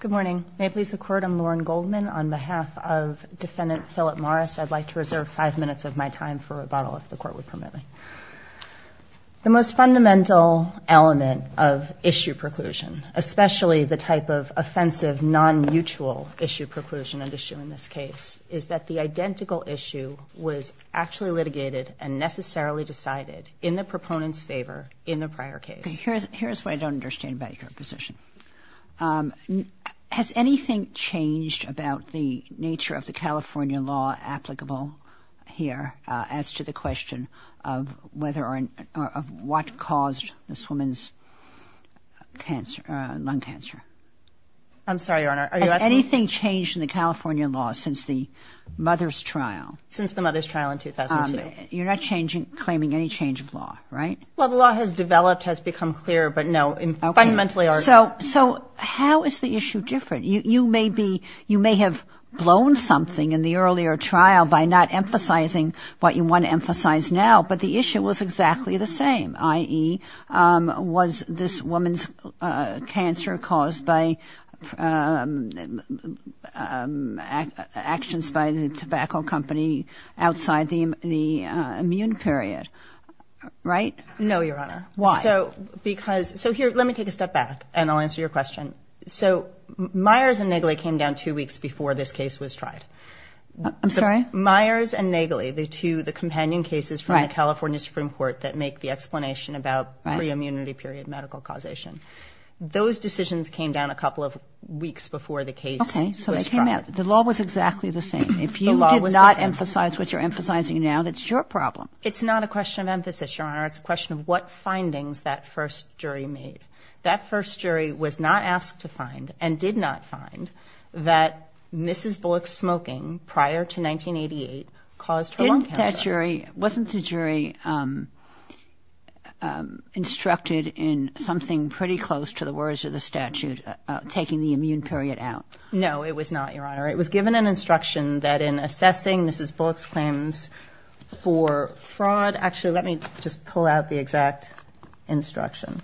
Good morning. May it please the Court, I'm Lauren Goldman. On behalf of Defendant Philip Morris, I'd like to reserve five minutes of my time for rebuttal, if the Court would permit me. The most fundamental element of issue preclusion, especially the type of offensive non-mutual issue preclusion and issue in this case, is that the identical issue was actually litigated and necessarily decided in the proponent's favor in the prior case. Okay, here's what I don't understand about your position. Has anything changed about the nature of the California law applicable here as to the question of what caused this woman's lung cancer? I'm sorry, Your Honor, are you asking me? Has anything changed in the California law since the mother's trial? Since the mother's trial in 2002. You're not claiming any change of law, right? Well, the law has developed, has become clearer, but no, fundamentally our... So how is the issue different? You may have blown something in the earlier trial by not emphasizing what you want to emphasize now, but the issue was exactly the same, i.e., was this woman's cancer caused by actions by the tobacco company outside the immune period, right? No, Your Honor. Why? So here, let me take a step back and I'll answer your question. So Myers and Nagley came down two weeks before this case was tried. I'm sorry? Myers and Nagley, the two companion cases from the California Supreme Court that make the explanation about pre-immunity period medical causation. Those decisions came down a couple of weeks before the case was tried. Okay, so they came out. The law was exactly the same. The law was the same. If you did not emphasize what you're emphasizing now, that's your problem. It's not a question of emphasis, Your Honor. It's a question of what findings that first jury made. That first jury was not asked to find and did not find that Mrs. Bullock's smoking prior to 1988 caused her lung cancer. Wasn't that jury instructed in something pretty close to the words of the statute, taking the immune period out? No, it was not, Your Honor. It was given an instruction that in assessing Mrs. Bullock's claims for fraud. Actually, let me just pull out the exact instruction.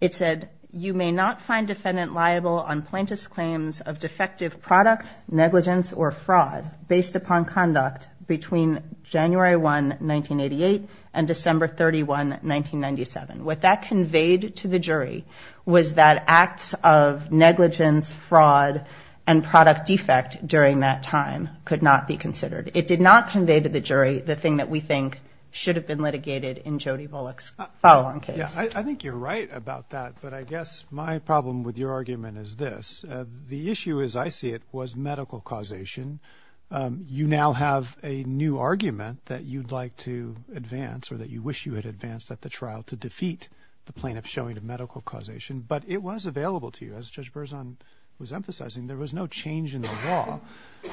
It said, you may not find defendant liable on plaintiff's claims of defective product, negligence or fraud based upon conduct between January 1, 1988 and December 31, 1997. What that conveyed to the jury was that acts of negligence, fraud and product defect during that time could not be considered. It did not convey to the jury the thing that we think should have been litigated in Jody Bullock's following case. I think you're right about that, but I guess my problem with your argument is this. The issue as I see it was medical causation. You now have a new argument that you'd like to advance or that you wish you had advanced at the trial to defeat the plaintiff's showing of medical causation. But it was available to you. As Judge Berzon was emphasizing, there was no change in the law.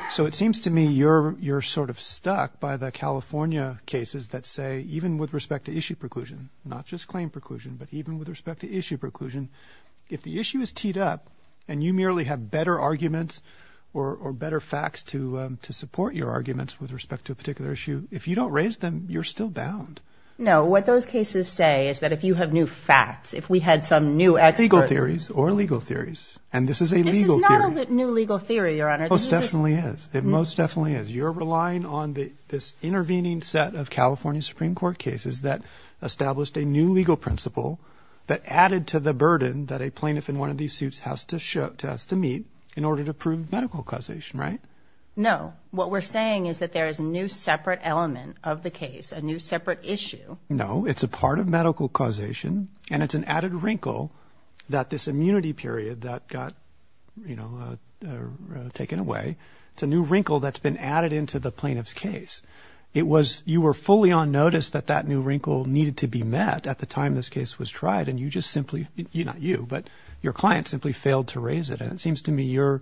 So it seems to me you're sort of stuck by the California cases that say even with respect to issue preclusion, not just claim preclusion, but even with respect to issue preclusion. If the issue is teed up and you merely have better arguments or better facts to support your arguments with respect to a particular issue, if you don't raise them, you're still bound. No. What those cases say is that if you have new facts, if we had some new. Legal theories or legal theories. And this is a legal theory. This is not a new legal theory, Your Honor. It most definitely is. You're relying on this intervening set of California Supreme Court cases that established a new legal principle that added to the burden that a plaintiff in one of these suits has to meet in order to prove medical causation, right? No. What we're saying is that there is a new separate element of the case, a new separate issue. No. It's a part of medical causation. And it's an added wrinkle that this immunity period that got, you know, taken away. It's a new wrinkle that's been added into the plaintiff's case. It was you were fully on notice that that new wrinkle needed to be met at the time this case was tried. And you just simply you not you, but your client simply failed to raise it. And it seems to me you're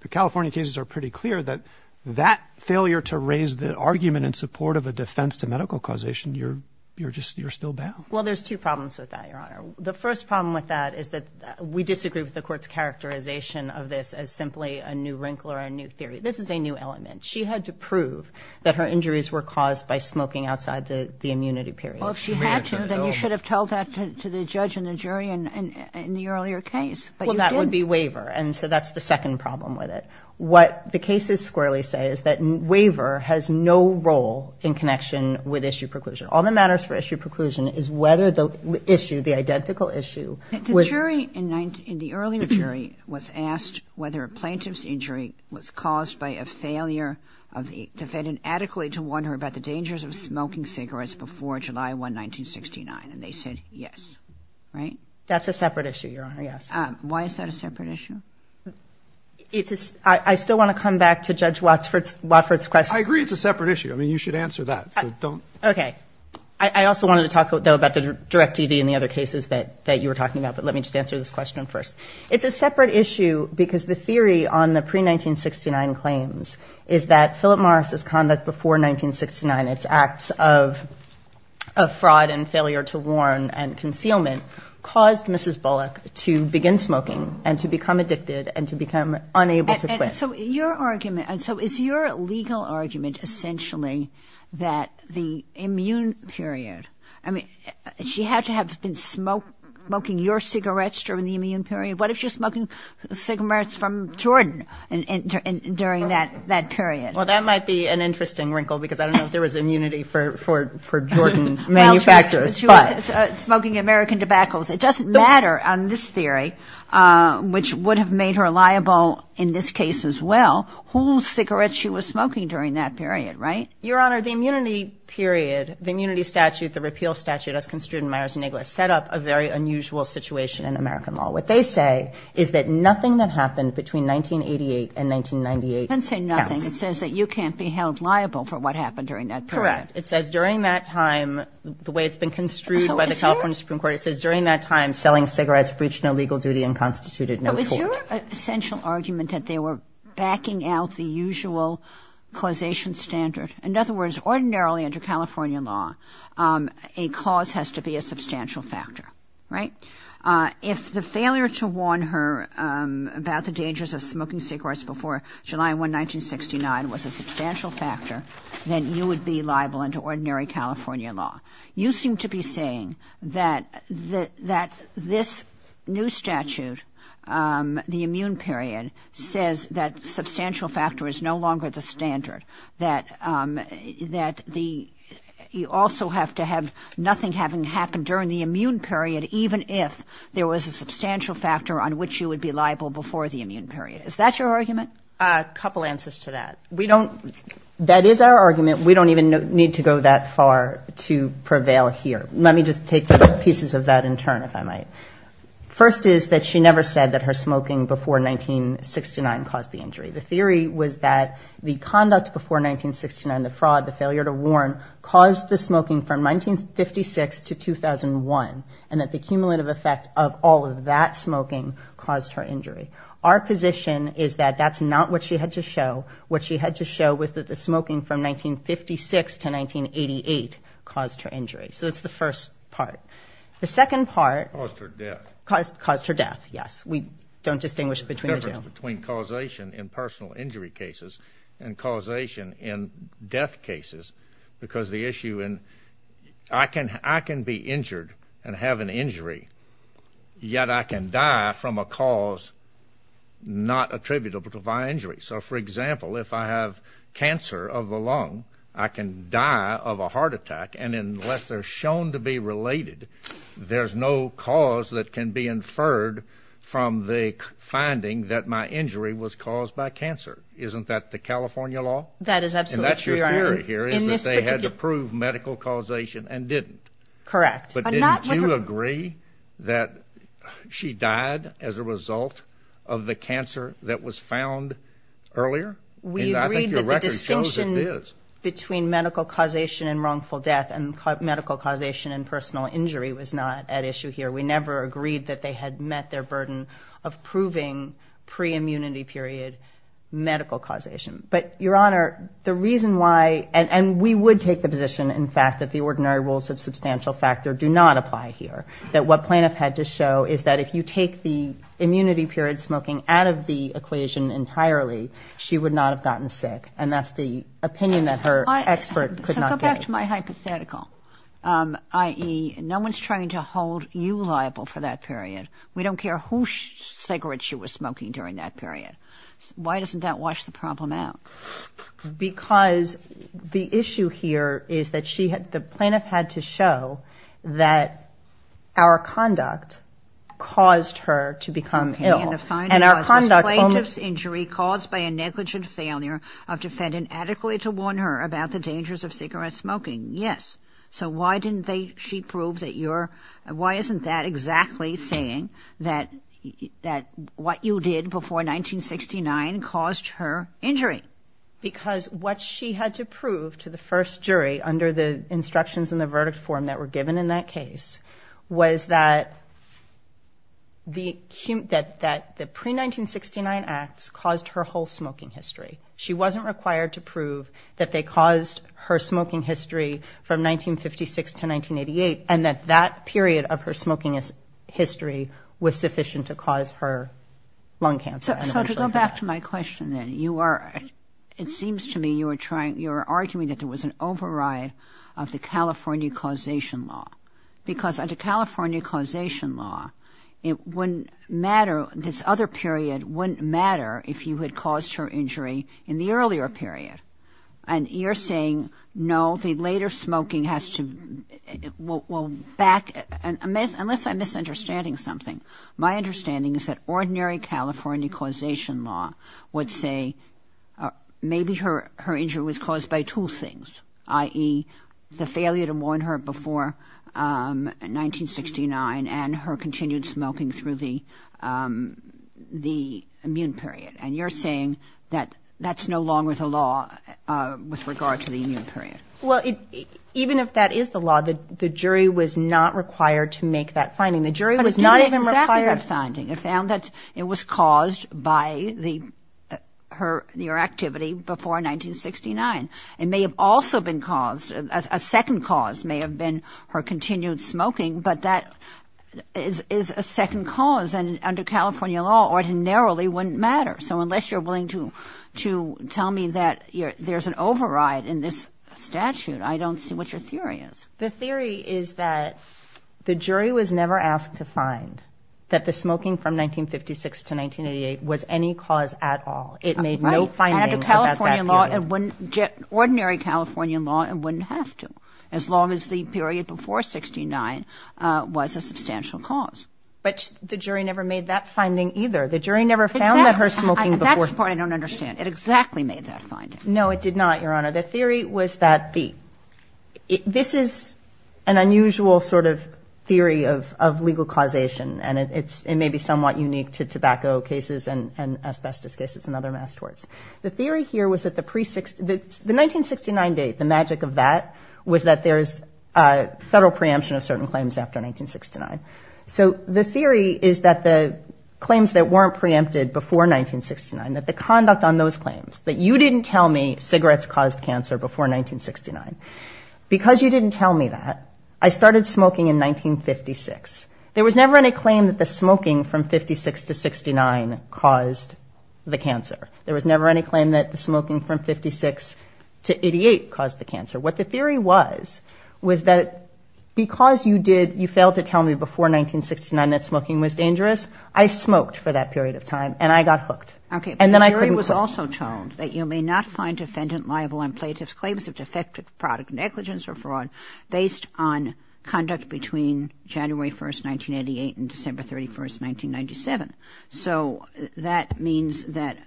the California cases are pretty clear that that failure to raise the argument in support of a defense to medical causation. You're you're just you're still bound. Well, there's two problems with that, Your Honor. The first problem with that is that we disagree with the court's characterization of this as simply a new wrinkle or a new theory. This is a new element. She had to prove that her injuries were caused by smoking outside the immunity period. Well, if she had to, then you should have told that to the judge and the jury and in the earlier case. Well, that would be waiver. And so that's the second problem with it. What the cases squarely say is that waiver has no role in connection with issue preclusion. All that matters for issue preclusion is whether the issue, the identical issue. The jury in the earlier jury was asked whether a plaintiff's injury was caused by a failure of the defendant adequately to wonder about the dangers of smoking cigarettes before July 1, 1969, and they said yes, right? That's a separate issue, Your Honor, yes. Why is that a separate issue? I still want to come back to Judge Wofford's question. I agree it's a separate issue. I mean, you should answer that. Okay. I also wanted to talk, though, about the direct TV and the other cases that you were talking about, but let me just answer this question first. It's a separate issue because the theory on the pre-1969 claims is that Philip Morris's conduct before 1969, its acts of fraud and failure to warn and concealment, caused Mrs. Bullock to begin smoking and to become addicted and to become unable to quit. So your argument, so is your legal argument essentially that the immune period, I mean, she had to have been smoking your cigarettes during the immune period? What if she was smoking cigarettes from Jordan during that period? Well, that might be an interesting wrinkle because I don't know if there was immunity for Jordan manufacturers. Smoking American tobaccos. It doesn't matter on this theory, which would have made her liable in this case as well, whose cigarettes she was smoking during that period, right? Your Honor, the immunity period, the immunity statute, the repeal statute as construed in Myers-Niggles set up a very unusual situation in American law. What they say is that nothing that happened between 1988 and 1998 counts. They didn't say nothing. It says that you can't be held liable for what happened during that period. Correct. It says during that time, the way it's been construed by the California Supreme Court, it says during that time, selling cigarettes breached no legal duty and constituted no tort. But was your essential argument that they were backing out the usual causation standard? In other words, ordinarily under California law, a cause has to be a substantial factor, right? If the failure to warn her about the dangers of smoking cigarettes before July 1, 1969, was a substantial factor, then you would be liable under ordinary California law. You seem to be saying that this new statute, the immune period, says that substantial factor is no longer the standard, that you also have to have nothing having happened during the immune period, even if there was a substantial factor on which you would be liable before the immune period. Is that your argument? A couple answers to that. That is our argument. We don't even need to go that far to prevail here. Let me just take pieces of that in turn, if I might. First is that she never said that her smoking before 1969 caused the injury. The theory was that the conduct before 1969, the fraud, the failure to warn, caused the smoking from 1956 to 2001, and that the cumulative effect of all of that smoking caused her injury. Our position is that that's not what she had to show. What she had to show was that the smoking from 1956 to 1988 caused her injury. So that's the first part. The second part caused her death, yes. We don't distinguish between the two. The difference between causation in personal injury cases and causation in death cases, because the issue in I can be injured and have an injury, yet I can die from a cause not attributable to my injury. So, for example, if I have cancer of the lung, I can die of a heart attack, and unless they're shown to be related, there's no cause that can be inferred from the finding that my injury was caused by cancer. Isn't that the California law? That is absolutely true. And that's your theory here is that they had to prove medical causation and didn't. Correct. But didn't you agree that she died as a result of the cancer that was found earlier? We agreed that the distinction between medical causation and wrongful death and medical causation and personal injury was not at issue here. We never agreed that they had met their burden of proving pre-immunity period medical causation. But, Your Honor, the reason why, and we would take the position, in fact, that the ordinary rules of substantial factor do not apply here, that what Planoff had to show is that if you take the immunity period smoking out of the equation entirely, she would not have gotten sick, and that's the opinion that her expert could not get. So go back to my hypothetical, i.e., no one's trying to hold you liable for that period. We don't care whose cigarette she was smoking during that period. Why doesn't that wash the problem out? Because the issue here is that the Planoff had to show that our conduct caused her to become ill. Okay, and the final clause was Planoff's injury caused by a negligent failure of defendant adequately to warn her about the dangers of cigarette smoking. Yes. So why didn't she prove that you're, why isn't that exactly saying that what you did before 1969 caused her injury? Because what she had to prove to the first jury under the instructions in the verdict form that were given in that case was that the pre-1969 acts caused her whole smoking history. She wasn't required to prove that they caused her smoking history from 1956 to 1988 and that that period of her smoking history was sufficient to cause her lung cancer. So to go back to my question then, you are, it seems to me you are trying, you are arguing that there was an override of the California causation law. Because under California causation law, it wouldn't matter, this other period wouldn't matter if you had caused her injury in the earlier period. And you're saying, no, the later smoking has to, well, back, unless I'm misunderstanding something, my understanding is that ordinary California causation law would say maybe her injury was caused by two things, i.e., the failure to warn her before 1969 and her continued smoking through the immune period. And you're saying that that's no longer the law with regard to the immune period. Well, even if that is the law, the jury was not required to make that finding. The jury was not even required. It found that it was caused by the, her, your activity before 1969. It may have also been caused, a second cause may have been her continued smoking, but that is a second cause and under California law ordinarily wouldn't matter. So unless you're willing to tell me that there's an override in this statute, I don't see what your theory is. The theory is that the jury was never asked to find that the smoking from 1956 to 1988 was any cause at all. It made no finding about that period. Right, and under California law, ordinary California law, it wouldn't have to, as long as the period before 1969 was a substantial cause. But the jury never made that finding either. The jury never found that her smoking before... An unusual sort of theory of legal causation and it may be somewhat unique to tobacco cases and asbestos cases and other mass torts. The theory here was that the 1969 date, the magic of that, was that there's a federal preemption of certain claims after 1969. So the theory is that the claims that weren't preempted before 1969, that the conduct on those claims, that you didn't tell me cigarettes caused cancer before 1969, because you didn't tell me that, I started smoking in 1956. There was never any claim that the smoking from 56 to 69 caused the cancer. There was never any claim that the smoking from 56 to 88 caused the cancer. What the theory was, was that because you did, you failed to tell me before 1969 that smoking was dangerous, I smoked for that period of time and I got hooked. Okay, but the jury was also told that you may not find defendant liable on plaintiff's claims of defective product negligence or fraud based on conduct between January 1st, 1988 and December 31st, 1997. So that means that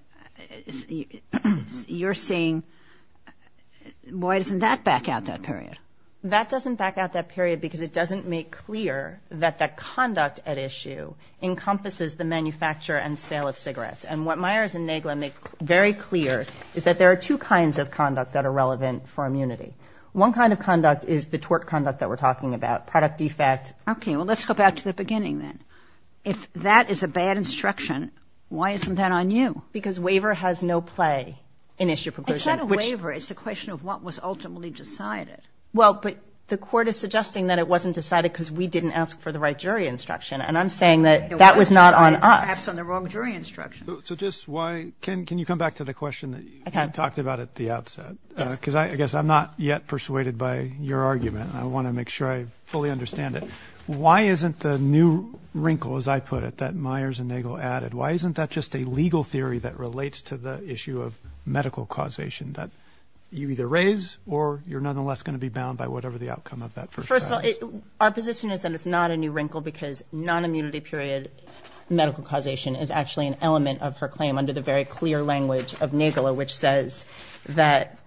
you're saying, why doesn't that back out that period? That doesn't back out that period because it doesn't make clear that that conduct at issue encompasses the manufacture and sale of cigarettes. And what Myers and Nagler make very clear is that there are two kinds of conduct that are relevant for immunity. One kind of conduct is the tort conduct that we're talking about, product defect. Okay, well, let's go back to the beginning then. If that is a bad instruction, why isn't that on you? Because waiver has no play in issue proclusion. It's not a waiver, it's a question of what was ultimately decided. Well, but the court is suggesting that it wasn't decided because we didn't ask for the right jury instruction. And I'm saying that that was not on us. Perhaps on the wrong jury instruction. So just why can can you come back to the question that you talked about at the outset? Because I guess I'm not yet persuaded by your argument and I want to make sure I fully understand it. Why isn't the new wrinkle, as I put it, that Myers and Nagler added? Why isn't that just a legal theory that relates to the issue of medical causation that you either raise or you're nonetheless going to be bound by whatever the outcome of that? First of all, our position is that it's not a new wrinkle because non-immunity period medical causation is actually an element of her claim under the very clear language of Nagler, which says that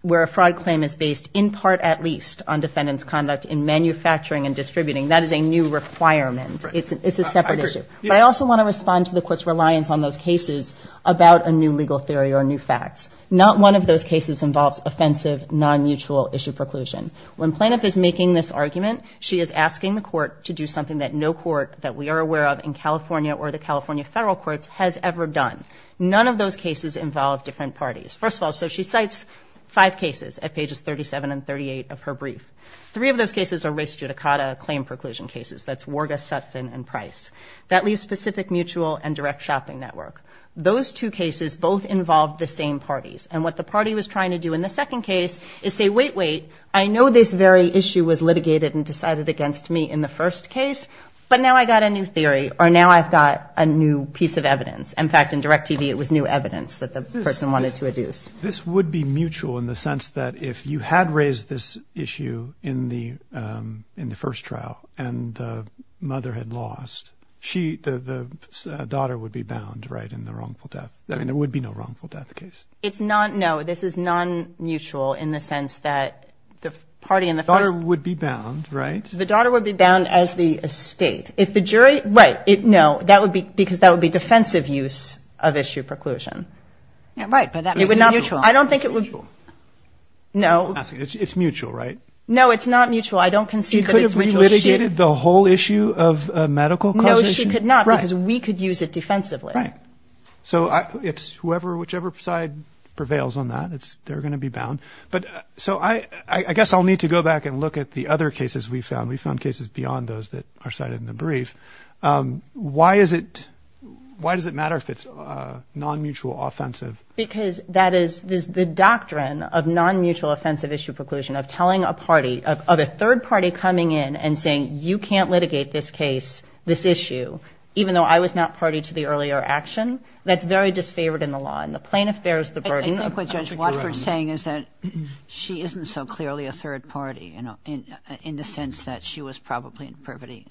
where a fraud claim is based in part at least on defendant's conduct in manufacturing and distributing. That is a new requirement. It's a separate issue. But I also want to respond to the court's reliance on those cases about a new legal theory or new facts. Not one of those cases involves offensive, non-mutual issue preclusion. When Planoff is making this argument, she is asking the court to do something that no court that we are aware of in California or the California federal courts has ever done. None of those cases involve different parties. First of all, so she cites five cases at pages 37 and 38 of her brief. Three of those cases are race judicata claim preclusion cases. That's Warga, Sutphin and Price. That leaves Pacific Mutual and Direct Shopping Network. Those two cases both involve the same parties. And what the party was trying to do in the second case is say, wait, wait, I know this very issue was litigated and decided against me in the first case, but now I've got a new theory or now I've got a new piece of evidence. In fact, in Direct TV it was new evidence that the person wanted to adduce. This would be mutual in the sense that if you had raised this issue in the first trial and the mother had lost, the daughter would be bound, right, in the wrongful death. I mean, there would be no wrongful death case. It's not, no, this is non-mutual in the sense that the party in the first. The daughter would be bound, right? The daughter would be bound as the estate. If the jury, right, no, that would be because that would be defensive use of issue preclusion. I don't think it would. No, it's mutual, right? No, it's not mutual. I don't concede that it's mutual. She could not because we could use it defensively. So it's whoever, whichever side prevails on that, they're going to be bound. But so I guess I'll need to go back and look at the other cases we found. We found cases beyond those that are cited in the brief. Why is it? Why does it matter if it's non-mutual offensive? Because that is the doctrine of non-mutual offensive issue preclusion of telling a party of a third party coming in and saying you can't litigate this case, this issue, even though I was not party to the earlier action. That's very disfavored in the law and the plaintiff bears the burden. I think what Judge Watford's saying is that she isn't so clearly a third party, you know, in the sense that she was probably in privity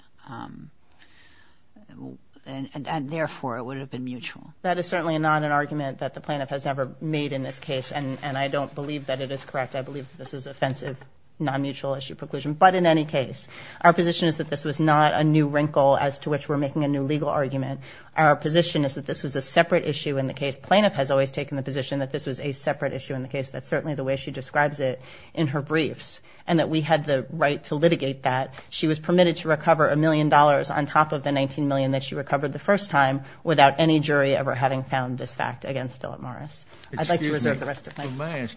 and therefore it would have been mutual. That is certainly not an argument that the plaintiff has ever made in this case and I don't believe that it is correct. I believe this is offensive non-mutual issue preclusion. But in any case, our position is that this was not a new wrinkle as to which we're making a new legal argument. Our position is that this was a separate issue in the case. Plaintiff has always taken the position that this was a separate issue in the case. That's certainly the way she describes it in her briefs and that we had the right to litigate that. She was permitted to recover a million dollars on top of the 19 million that she recovered the first time without any jury ever having found this fact against Philip Morris. I'd like to reserve the rest of my time.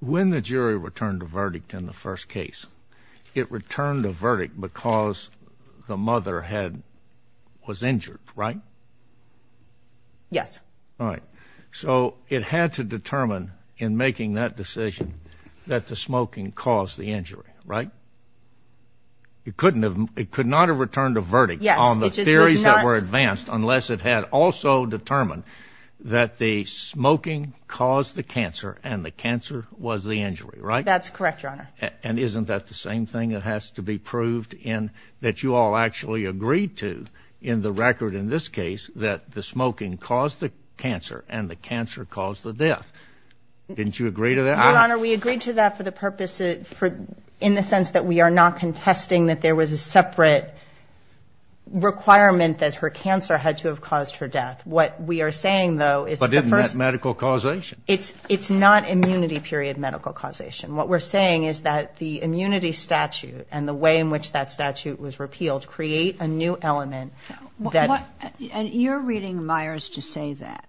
When the jury returned a verdict in the first case, it returned a verdict because the mother was injured, right? Yes. So it had to determine in making that decision that the smoking caused the injury, right? It could not have returned a verdict on the theories that were advanced unless it had also determined that the smoking caused the cancer and the cancer was the injury, right? That's correct, Your Honor. And isn't that the same thing that has to be proved in that you all actually agreed to in the record in this case that the smoking caused the cancer and the cancer caused the death? Didn't you agree to that? Your Honor, we agreed to that in the sense that we are not contesting that there was a separate requirement that her cancer had to have caused her death. What we are saying, though, is that the first... But isn't that medical causation? It's not immunity period medical causation. What we're saying is that the immunity statute and the way in which that statute was repealed create a new element that... And you're reading Myers to say that,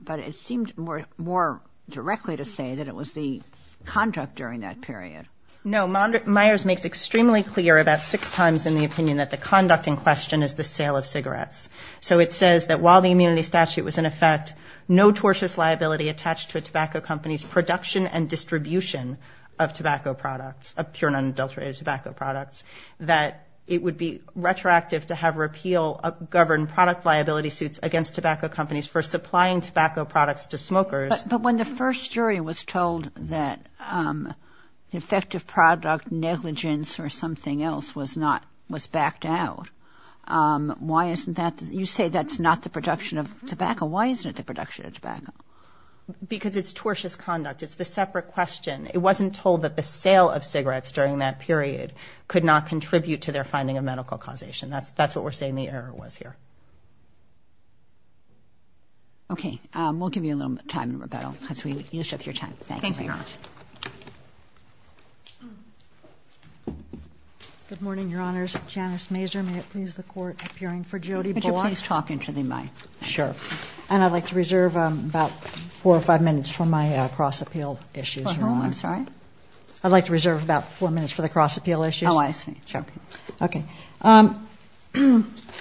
but it seemed more directly to say that it was the conduct during that period. No. Myers makes extremely clear about six times in the opinion that the conduct in question is the sale of cigarettes. So it says that while the immunity statute was in effect, no tortious liability attached to a tobacco company's production and distribution of tobacco products, of pure and unadulterated tobacco products, that it would be retroactive to have repeal of governed product liability suits against tobacco companies for supplying tobacco products to smokers. But when the first jury was told that the effective product negligence or something else was not, was backed out, why isn't that the case? You say that's not the production of tobacco. Why isn't it the production of tobacco? Because it's tortious conduct. It's the separate question. It wasn't told that the sale of cigarettes during that period could not contribute to their finding of medical causation. That's what we're saying the error was here. Okay. We'll give you a little time to rebuttal because you took your time. Thank you very much. Good morning, Your Honors. Janice Mazur, may it please the Court, appearing for Jody Bullock. And I'd like to reserve about four or five minutes for my cross-appeal issues. I'd like to reserve about four minutes for the cross-appeal issues.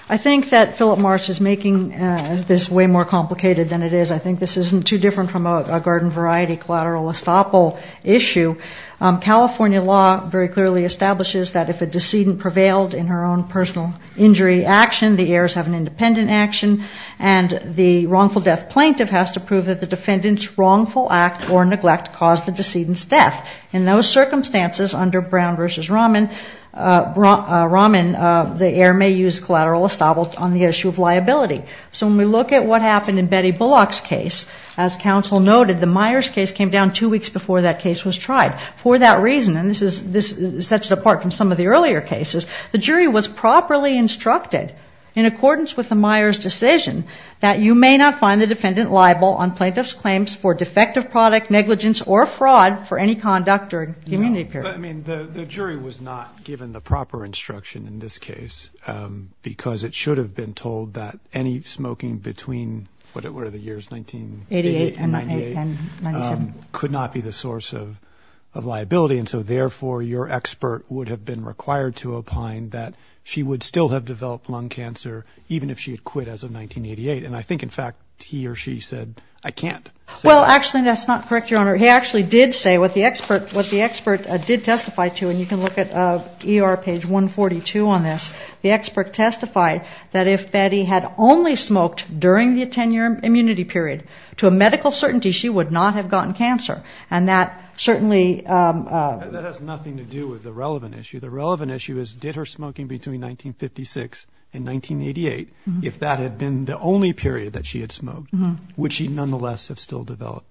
I think that Philip Marsh is making this way more complicated than it is. I think this isn't too different from a garden variety collateral estoppel issue. California law very clearly establishes that if a decedent prevailed in her own personal injury action, the heirs have an independent action. And the wrongful death plaintiff has to prove that the defendant's wrongful act or neglect caused the decedent's death. In those circumstances, under Brown v. Raman, the heir may use collateral estoppel on the issue of liability. So when we look at what happened in Betty Bullock's case, as counsel noted, the Myers case came down two weeks before that case was tried. For that reason, and this sets it apart from some of the earlier cases, the jury was properly instructed, in accordance with the Myers decision, that you may not find the defendant liable on plaintiff's claims for defective product, negligence, or fraud for any conduct during community period. I mean, the jury was not given the proper instruction in this case, because it should have been told that any smoking between, what are the years, 1988 and 1998, could not be the source of liability, and so, therefore, your expert would have been required to opine that she would still have developed lung cancer, even if she had quit as of 1988. And I think, in fact, he or she said, I can't. Well, actually, that's not correct, Your Honor. He actually did say what the expert did testify to, and you can look at ER page 142 on this. The expert testified that if Betty had only smoked during the 10-year immunity period, to a medical certainty, she would not have gotten cancer, and that certainly... That has nothing to do with the relevant issue. The relevant issue is, did her smoking between 1956 and 1988, if that had been the only period that she had smoked, would she nonetheless have still developed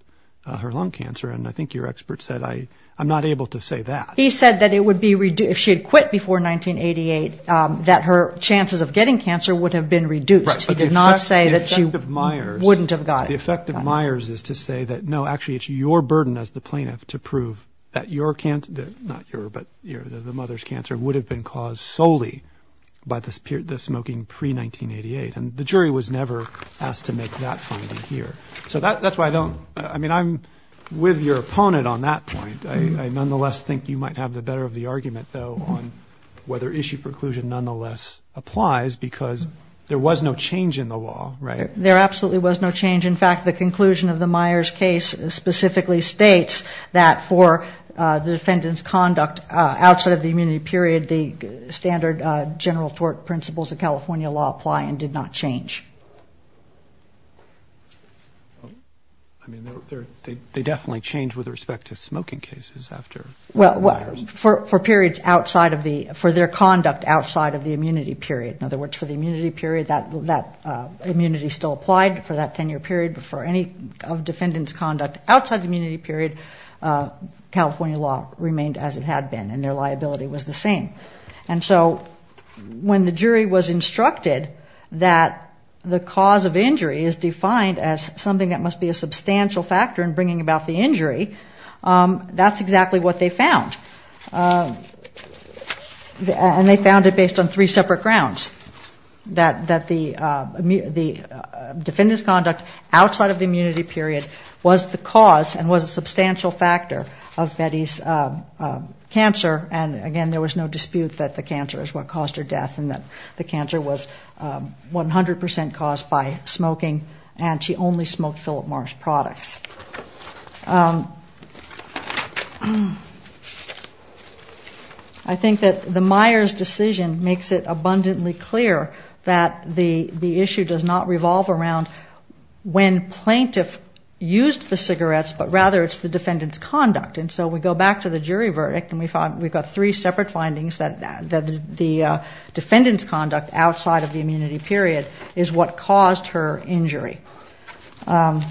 her lung cancer? And I think your expert said, I'm not able to say that. He said that if she had quit before 1988, that her chances of getting cancer would have been reduced. He did not say that she wouldn't have gotten it. The effect of Myers is to say that, no, actually, it's your burden as the plaintiff to prove that your cancer, not your, but the mother's cancer, would have been caused solely by the smoking pre-1988. And the jury was never asked to make that finding here. So that's why I don't, I mean, I'm with your opponent on that point. I nonetheless think you might have the better of the argument, though, on whether issue preclusion nonetheless applies, because there was no change in the law, right? There absolutely was no change. In fact, the conclusion of the Myers case specifically states that for the defendant's conduct outside of the immunity period, the standard general tort principles of California law apply and did not change. I mean, they definitely changed with respect to smoking cases after Myers. Well, for periods outside of the, for their conduct outside of the immunity period. In other words, for the immunity period, that immunity still applied for that 10-year period. But for any defendant's conduct outside the immunity period, California law remained as it had been, and their liability was the same. And so when the jury was instructed that the cause of injury is defined as something that must be a substantial factor in bringing about the injury, that's exactly what they found. And they found it based on three separate grounds, that the defendant's conduct outside of the immunity period was the cause and was a substantial factor of Betty's cancer. And again, there was no dispute that the cancer is what caused her death, and that the cancer was 100 percent caused by smoking, and she only smoked Philip Morris products. I think that the Myers decision makes it abundantly clear that the issue does not revolve around when plaintiff used the cigarettes, but rather it's the defendant's conduct. And so we go back to the jury verdict, and we've got three separate findings that the defendant's conduct outside of the immunity period is what caused her injury. As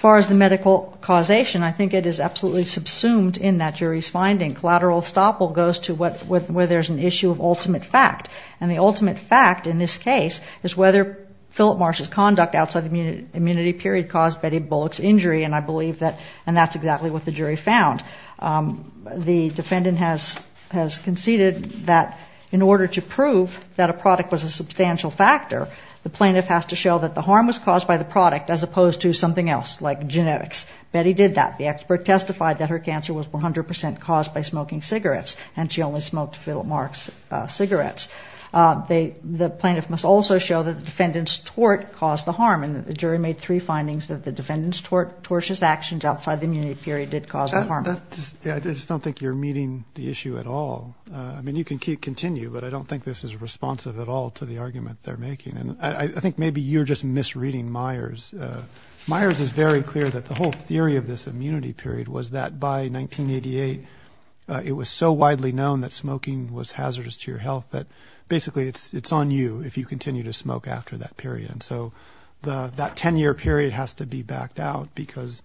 far as the medical causation, I think it is absolutely subsumed in that jury's finding. Collateral estoppel goes to where there's an issue of ultimate fact, and the ultimate fact in this case is whether Philip Morris's conduct outside the immunity period caused Betty Bullock's injury, and I believe that's exactly what the jury found. The defendant has conceded that in order to prove that a product was a substantial factor, the plaintiff has to show that the harm was caused by the product, as opposed to something else, like genetics. Betty did that. The expert testified that her cancer was 100 percent caused by smoking cigarettes, and she only smoked Philip Morris cigarettes. The plaintiff must also show that the defendant's tort caused the harm, and the jury made three findings that the defendant's tortious actions outside the immunity period did cause the harm. I just don't think you're meeting the issue at all. I mean, you can continue, but I don't think this is responsive at all to the argument they're making. And I think maybe you're just misreading Myers. Myers is very clear that the whole theory of this immunity period was that by 1988, it was so widely known that smoking was hazardous to your health that basically it's on you if you continue to smoke after that period. And so that 10-year period has to be backed out because,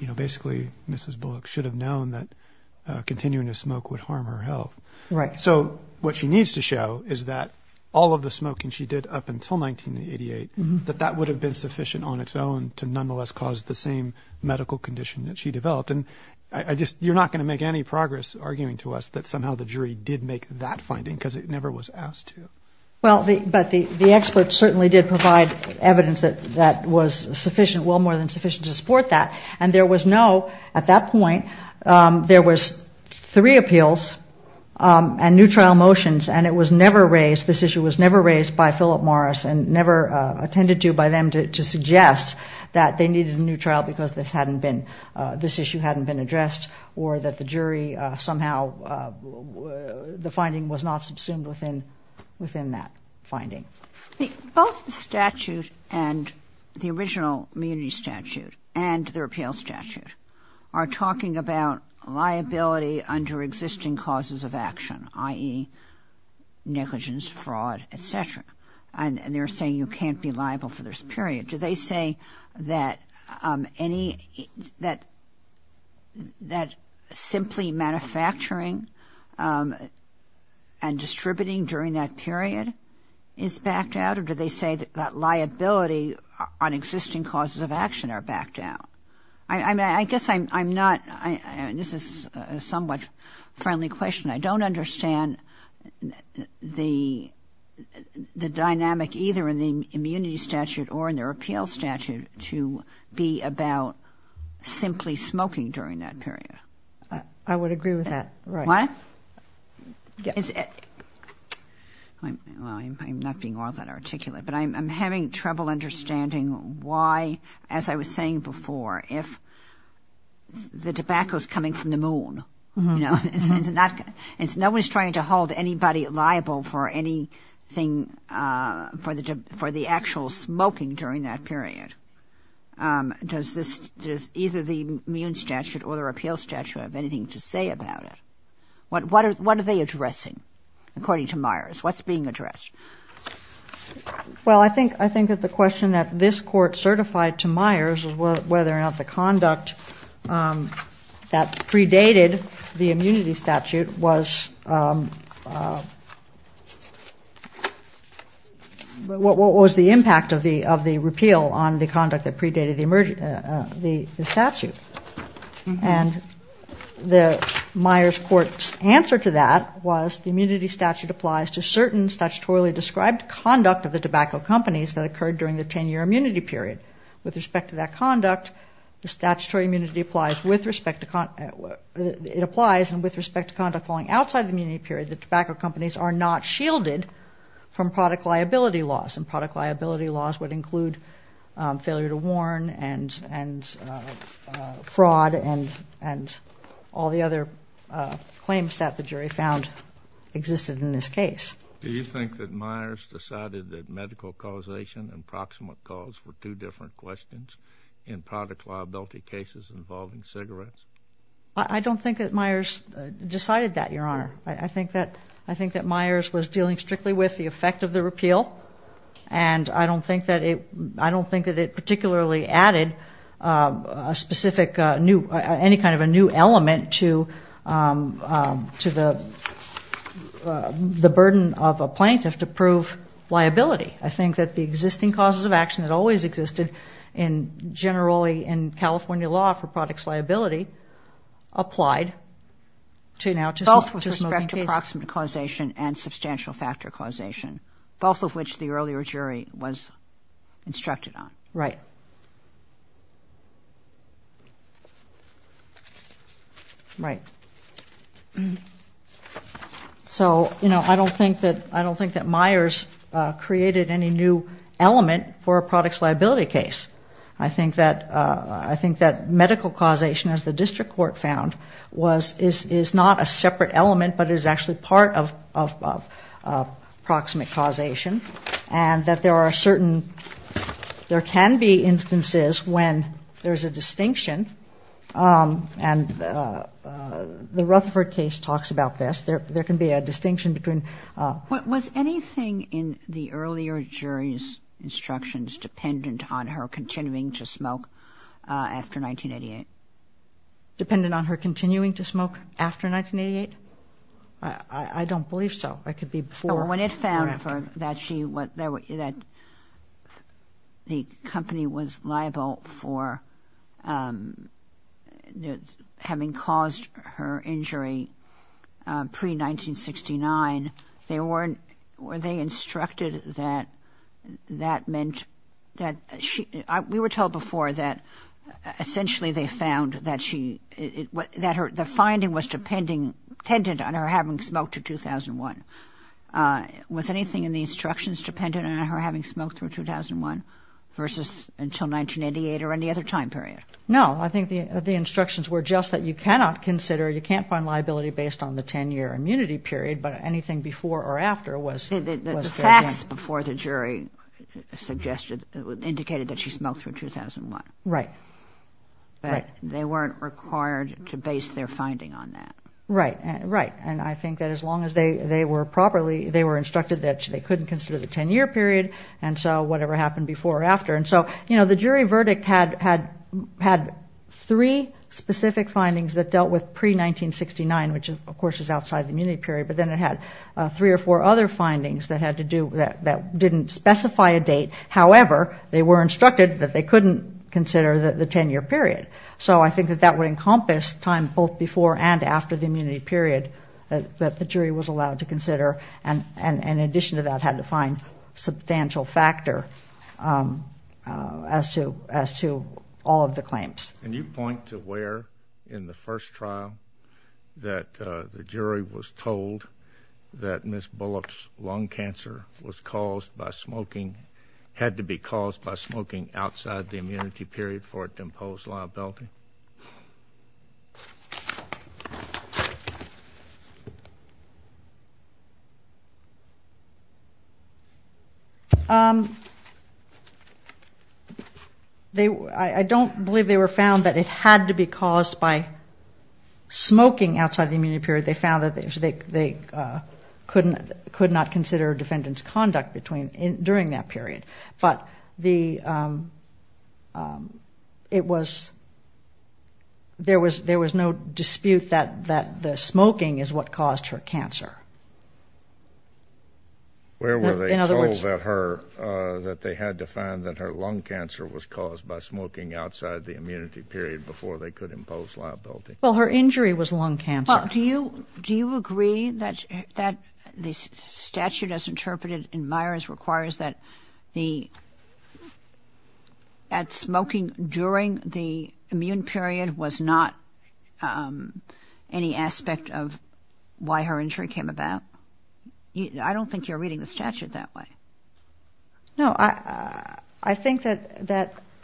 you know, basically Mrs. Bullock should have known that continuing to smoke would harm her health. Right. So what she needs to show is that all of the smoking she did up until 1988, that that would have been sufficient on its own to nonetheless cause the same medical condition that she developed. And I just you're not going to make any progress arguing to us that somehow the jury did make that finding because it never was asked to. Well, but the experts certainly did provide evidence that was sufficient, well more than sufficient to support that. And there was no, at that point, there was three appeals and new trial motions, and it was never raised, this issue was never raised by Philip Morris and never attended to by them to suggest that they needed a new trial because this hadn't been, this issue hadn't been addressed or that the jury somehow, the finding was not subsumed within that finding. Both the statute and the original immunity statute and the repeal statute are talking about liability under existing causes of action, i.e. negligence, fraud, et cetera. And they're saying you can't be liable for this period. Do they say that any, that simply manufacturing and distributing during that period is backed out or do they say that liability on existing causes of action are backed out? I mean, I guess I'm not, this is a somewhat friendly question. I don't understand the dynamic either in the immunity statute or in the repeal statute to be about simply smoking during that period. I would agree with that, right. Well, I'm not being all that articulate, but I'm having trouble understanding why, as I was saying before, if the tobacco is coming from the moon, you know, no one's trying to hold anybody liable for anything, for the actual smoking during that period. Does either the immune statute or the repeal statute have anything to say about it? What are they addressing according to Myers? What's being addressed? Well, I think that the question that this court certified to Myers was whether or not the conduct that predated the immunity statute was, what was the impact of the repeal on the conduct that predated the statute. And the Myers court's answer to that was the immunity statute applies to certain statutorily described conduct of the tobacco companies that occurred during the 10-year immunity period. With respect to that conduct, the statutory immunity applies with respect to, it applies and with respect to conduct falling outside the immunity period, the tobacco companies are not shielded from product liability laws, and product liability laws would include failure to warn and fraud and all the other claims that the jury found existed in this case. Do you think that Myers decided that medical causation and proximate cause were two different questions in product liability cases involving cigarettes? I don't think that Myers decided that, Your Honor. I think that Myers was dealing strictly with the effect of the repeal, and I don't think that it particularly added a specific new, any kind of a new element to the burden of a plaintiff to prove liability. I think that the existing causes of action that always existed generally in California law for product liability applied to now to smoking cases. With respect to proximate causation and substantial factor causation, both of which the earlier jury was instructed on. Right. So, you know, I don't think that Myers created any new element for a products liability case. I think that medical causation, as the district court found, is not a separate element but is actually part of proximate causation and that there are certain, there can be instances when there's a distinction and the Rutherford case talks about this, there can be a distinction between. Was anything in the earlier jury's instructions dependent on her continuing to smoke after 1988? I don't believe so. It could be before or after. When it found that she, that the company was liable for having caused her injury pre-1969, they weren't, they instructed that that meant that she, we were told before that essentially they found that she, the finding was dependent on her having smoked to 2001. Was anything in the instructions dependent on her having smoked through 2001 versus until 1988 or any other time period? No, I think the instructions were just that you cannot consider, you can't find liability based on the 10-year immunity period, but anything before or after was. The facts before the jury suggested, indicated that she smoked through 2001. Right. But they weren't required to base their finding on that. Right, and I think that as long as they were properly, they were instructed that they couldn't consider the 10-year period, and so whatever happened before or after. And so the jury verdict had three specific findings that dealt with pre-1969, which of course is outside the immunity period, but then it had three or four other findings that had to do, that didn't specify a date. However, they were instructed that they couldn't consider the 10-year period. So I think that that would encompass time both before and after the immunity period that the jury was allowed to consider, and in addition to that had to find substantial factor as to all of the claims. Can you point to where in the first trial that the jury was told that Ms. Bullock's lung cancer was caused by smoking, had to be caused by smoking outside the immunity period for it to impose liability? I don't believe they were found that it had to be caused by smoking outside the immunity period. They found that they could not consider defendant's conduct during that period. But there was no dispute that the smoking is what caused her cancer. Where were they told that they had to find that her lung cancer was caused by smoking outside the immunity period before they could impose liability? Well, her injury was lung cancer. Well, do you agree that the statute as interpreted in Myers requires that smoking during the immune period was not any aspect of why her injury came about? I don't think you're reading the statute that way. No, I think that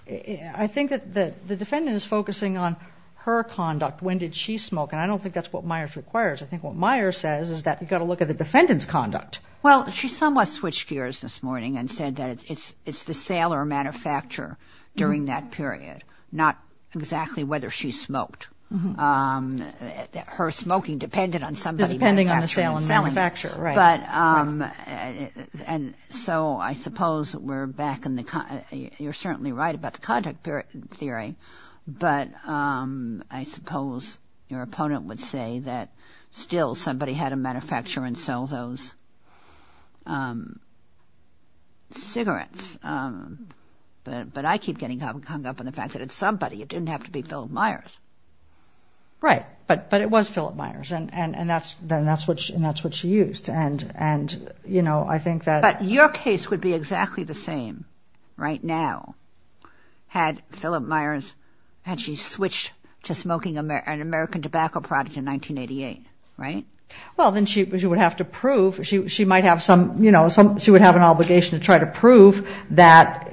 the defendant is focusing on her conduct. When did she smoke? And I don't think that's what Myers requires. I think what Myers says is that you've got to look at the defendant's conduct. Well, she somewhat switched gears this morning and said that it's the sale or manufacturer during that period, not exactly whether she smoked. Her smoking depended on somebody manufacturing it. And so I suppose we're back in the... You're certainly right about the conduct theory, but I suppose your opponent would say that still somebody had a manufacturer and sold those cigarettes. But I keep getting hung up on the fact that it's somebody. It didn't have to be Philip Myers. Right, but it was Philip Myers, and that's what she used. But your case would be exactly the same right now had she switched to smoking an American tobacco product in 1988, right? Well, then she would have to prove, she might have some, you know, she would have an obligation to try to prove that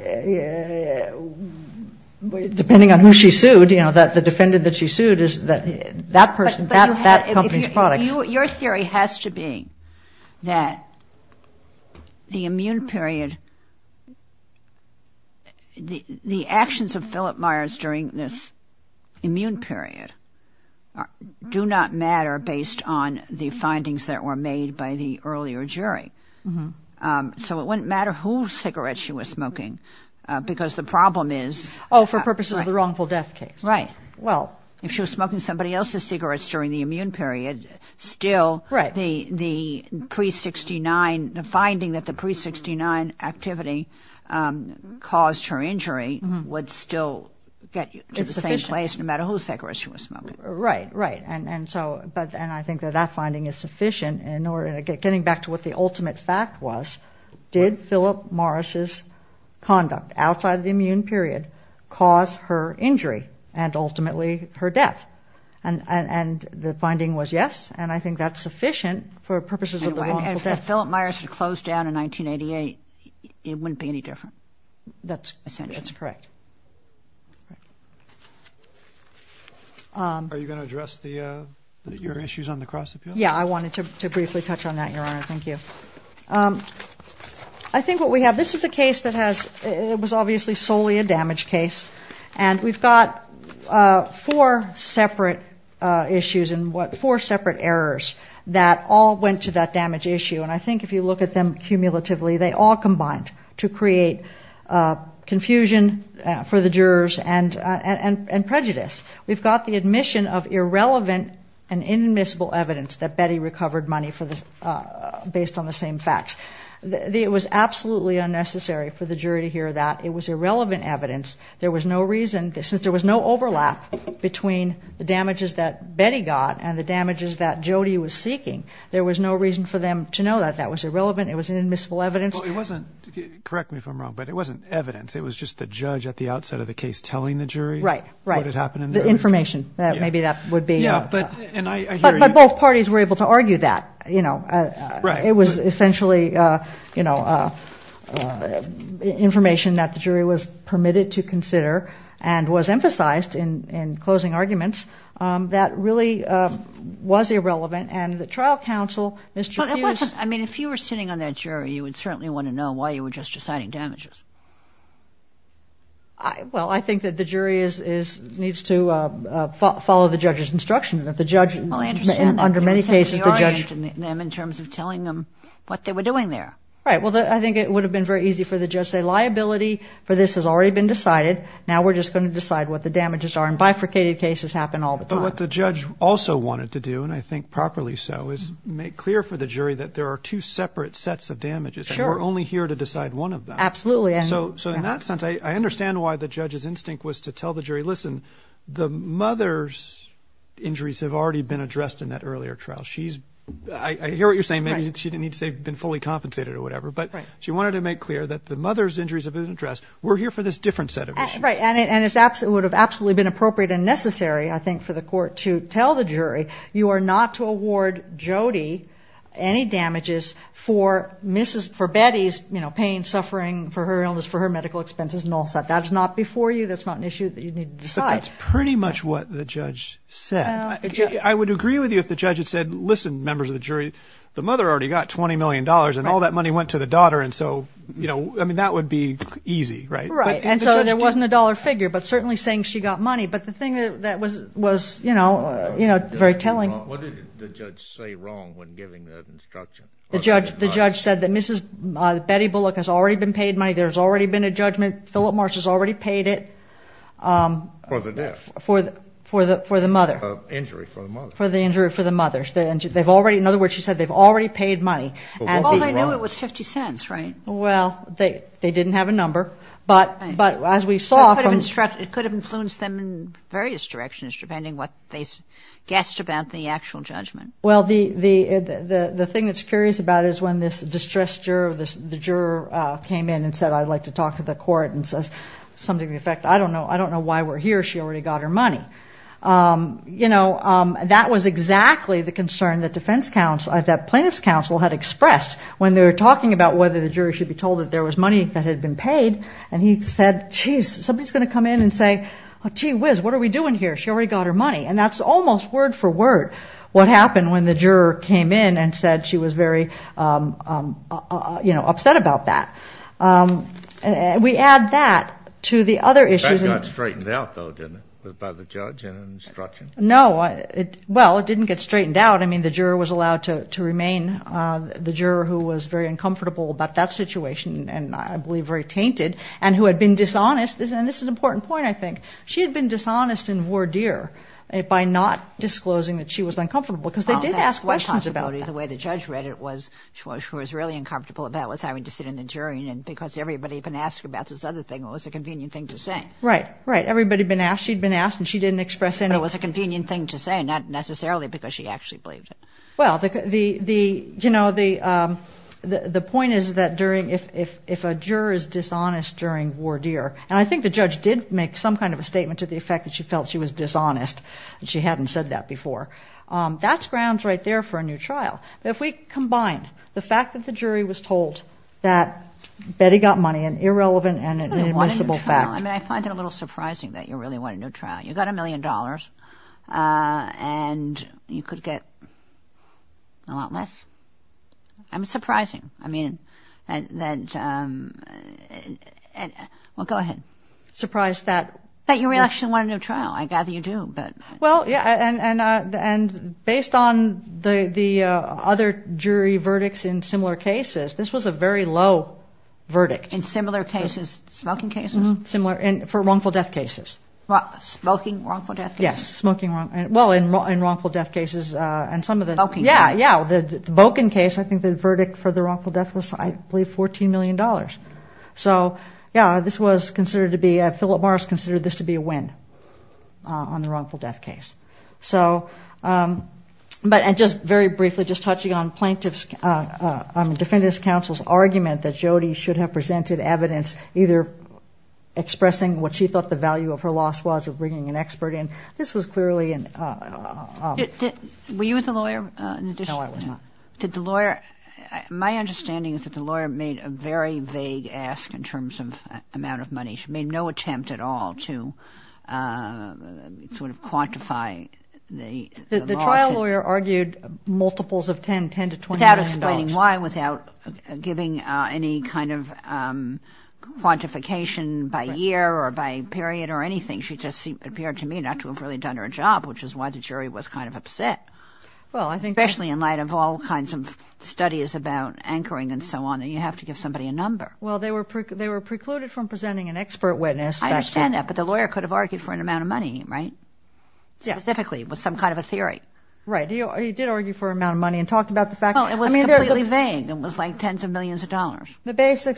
depending on who she sued, you know, that the defendant that she sued is that person, that company's product. Your theory has to be that the immune period, the actions of Philip Myers during this immune period do not matter based on the findings that were made by the earlier jury. So it wouldn't matter whose cigarette she was smoking, because the problem is... Oh, for purposes of the wrongful death case. Right. Well, if she was smoking somebody else's cigarettes during the immune period, still the pre-'69, the finding that the pre-'69 activity caused her injury would still get you to the same place no matter whose cigarette she was smoking. Right, right, and so, and I think that that finding is sufficient in order to get, getting back to what the ultimate fact was, did Philip Myers' conduct outside the immune period cause her injury and ultimately her death? And the finding was yes, and I think that's sufficient for purposes of the wrongful death. And if Philip Myers had closed down in 1988, it wouldn't be any different. That's correct. Are you going to address your issues on the cross-appeal? Yeah, I wanted to briefly touch on that, Your Honor. Thank you. I think what we have, this is a case that has, it was obviously solely a damage case, and we've got four separate issues and what, four separate errors that all went to that damage issue, and I think if you look at them cumulatively, they all combined to create confusion for the jurors and prejudice. We've got the admission of irrelevant and inadmissible evidence that Betty recovered money based on the same facts. It was absolutely unnecessary for the jury to hear that. It was irrelevant evidence. There was no reason, since there was no overlap between the damages that Betty got and the damages that Jody was seeking, there was no reason for them to know that that was irrelevant. It was inadmissible evidence. Well, it wasn't, correct me if I'm wrong, but it wasn't evidence. It was just the judge at the outset of the case telling the jury what had happened. The information, maybe that would be. But both parties were able to argue that. It was essentially information that the jury was permitted to consider and was emphasized in closing arguments that really was irrelevant. And the trial counsel, Mr. Hughes. I mean, if you were sitting on that jury, you would certainly want to know why you were just deciding damages. Well, I think that the jury needs to follow the judge's instructions. If the judge, under many cases, the judge. In terms of telling them what they were doing there. Right. Well, I think it would have been very easy for the judge to say liability for this has already been decided. Now we're just going to decide what the damages are. And bifurcated cases happen all the time. But what the judge also wanted to do, and I think properly so, is make clear for the jury that there are two separate sets of damages. We're only here to decide one of them. Absolutely. So in that sense, I understand why the judge's instinct was to tell the jury, listen, the mother's injuries have already been addressed in that earlier trial. She's I hear what you're saying. Maybe she didn't need to say been fully compensated or whatever. But she wanted to make clear that the mother's injuries have been addressed. We're here for this different set of. Right. And it's absolutely would have absolutely been appropriate and necessary, I think, for the court to tell the jury you are not to award Jody any damages for Mrs. For Betty's pain, suffering for her illness, for her medical expenses and all that. That's not before you. That's not an issue that you need to decide. That's pretty much what the judge said. I would agree with you if the judge had said, listen, members of the jury, the mother already got 20 million dollars and all that money went to the daughter. And so, you know, I mean, that would be easy. Right. Right. And so there wasn't a dollar figure, but certainly saying she got money. But the thing that was was, you know, you know, very telling. What did the judge say wrong when giving the instruction? The judge, the judge said that Mrs. Betty Bullock has already been paid money. There's already been a judgment. Philip Marsh has already paid it for the death, for the for the for the mother. For the injury for the mother. They've already. In other words, she said they've already paid money. And I know it was 50 cents. Right. Well, they they didn't have a number. But but as we saw, it could have influenced them in various directions, depending what they guessed about the actual judgment. Well, the the the thing that's curious about is when this distressed juror, the juror came in and said, I'd like to talk to the court and says something. In fact, I don't know. I don't know why we're here. She already got her money. You know, that was exactly the concern that defense counsel, that plaintiff's counsel had expressed when they were talking about whether the jury should be told that there was money that had been paid. And he said, geez, somebody is going to come in and say, gee whiz, what are we doing here? She already got her money. And that's almost word for word. What happened when the juror came in and said she was very upset about that? We add that to the other issues. That got straightened out, though, didn't it, by the judge and instruction? No. Well, it didn't get straightened out. I mean, the juror was allowed to remain the juror who was very uncomfortable about that situation. And I believe very tainted and who had been dishonest. And this is an important point, I think. She had been dishonest in voir dire by not disclosing that she was uncomfortable because they did ask questions about the way the judge read it. She was really uncomfortable about having to sit in the jury because everybody had been asked about this other thing. It was a convenient thing to say. Right. Right. Everybody had been asked. She had been asked and she didn't express anything. It was a convenient thing to say, not necessarily because she actually believed it. Well, the point is that if a juror is dishonest during voir dire, and I think the judge did make some kind of a statement to the effect that she felt she was dishonest and she hadn't said that before, that's grounds right there for a new trial. But if we combine the fact that the jury was told that Betty got money, an irrelevant and inadmissible fact. I mean, I find it a little surprising that you really wanted a new trial. You got a million dollars and you could get a lot less. I mean, surprising. I mean, that, well, go ahead. Surprised that. That you actually wanted a new trial. I gather you do, but. Well, yeah, and based on the other jury verdicts in similar cases, this was a very low verdict. In similar cases? Smoking cases? Similar. For wrongful death cases. Smoking wrongful death cases? Yes. Smoking wrongful. Well, in wrongful death cases and some of the. Boking. Yeah, yeah. The Boking case, I think the verdict for the wrongful death was I believe $14 million. So, yeah, this was considered to be, Philip Morris considered this to be a win on the wrongful death case. So, but just very briefly, just touching on plaintiff's, I mean, defendant's counsel's argument that Jody should have presented evidence either expressing what she thought the value of her loss was or bringing an expert in. This was clearly an. Were you with the lawyer? No, I was not. My understanding is that the lawyer made a very vague ask in terms of amount of money. She made no attempt at all to sort of quantify the loss. The trial lawyer argued multiples of 10, $10 to $20 million. Without explaining why, without giving any kind of quantification by year or by period or anything. She just appeared to me not to have really done her job, which is why the jury was kind of upset. Well, I think. Especially in light of all kinds of studies about anchoring and so on. You have to give somebody a number. Well, they were precluded from presenting an expert witness. I understand that. But the lawyer could have argued for an amount of money, right? Yeah. Specifically with some kind of a theory. Right. He did argue for an amount of money and talked about the fact. Well, it was completely vague. It was like tens of millions of dollars. And I think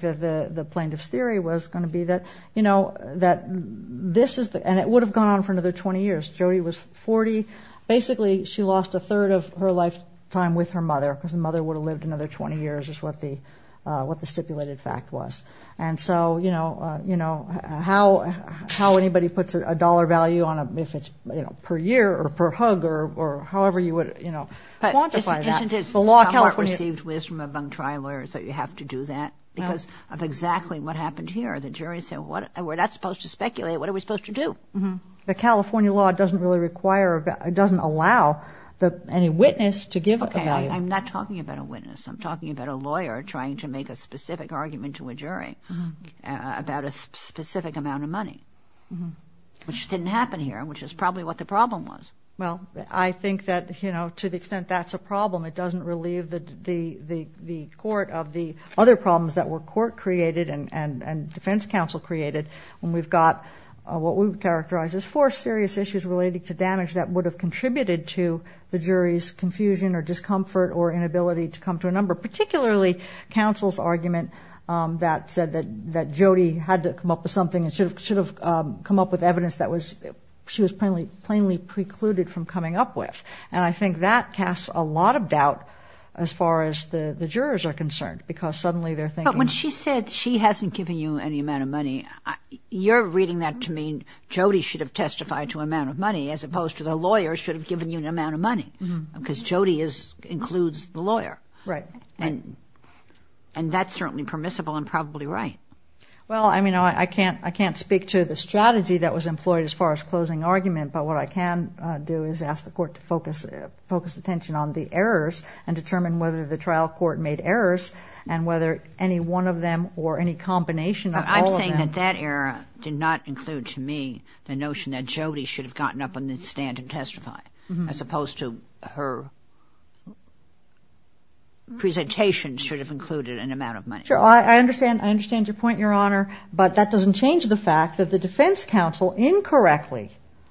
that the plaintiff's theory was going to be that, you know, that this is the... And it would have gone on for another 20 years. Jody was 40. Basically, she lost a third of her lifetime with her mother because the mother would have lived another 20 years is what the stipulated fact was. And so, you know, how anybody puts a dollar value on a... If it's, you know, per year or per hug or however you would, you know, quantify that. Isn't it somewhat received wisdom among trial lawyers that you have to do that? Because of exactly what happened here. The jury said, well, we're not supposed to speculate. What are we supposed to do? The California law doesn't really require or doesn't allow any witness to give a value. Okay. I'm not talking about a witness. I'm talking about a lawyer trying to make a specific argument to a jury about a specific amount of money, which didn't happen here, which is probably what the problem was. Well, I think that, you know, to the extent that's a problem, it doesn't relieve the court of the other problems that were court created and defense counsel created. And we've got what we characterize as four serious issues related to damage that would have contributed to the jury's confusion or discomfort or inability to come to a number, particularly counsel's argument that said that Jody had to come up with something and should have come up with evidence that she was plainly precluded from coming up with. And I think that casts a lot of doubt as far as the jurors are concerned, because suddenly they're thinking. But when she said she hasn't given you any amount of money, you're reading that to mean Jody should have testified to amount of money, as opposed to the lawyer should have given you an amount of money, because Jody includes the lawyer. Right. And that's certainly permissible and probably right. Well, I mean, I can't speak to the strategy that was employed as far as closing argument, but what I can do is ask the court to focus attention on the errors and determine whether the trial court made errors and whether any one of them or any combination of all of them. I'm saying that that error did not include to me the notion that Jody should have gotten up on the stand and testified, as opposed to her presentation should have included an amount of money. Sure. I understand. I understand your point, Your Honor. But that doesn't change the fact that the defense counsel incorrectly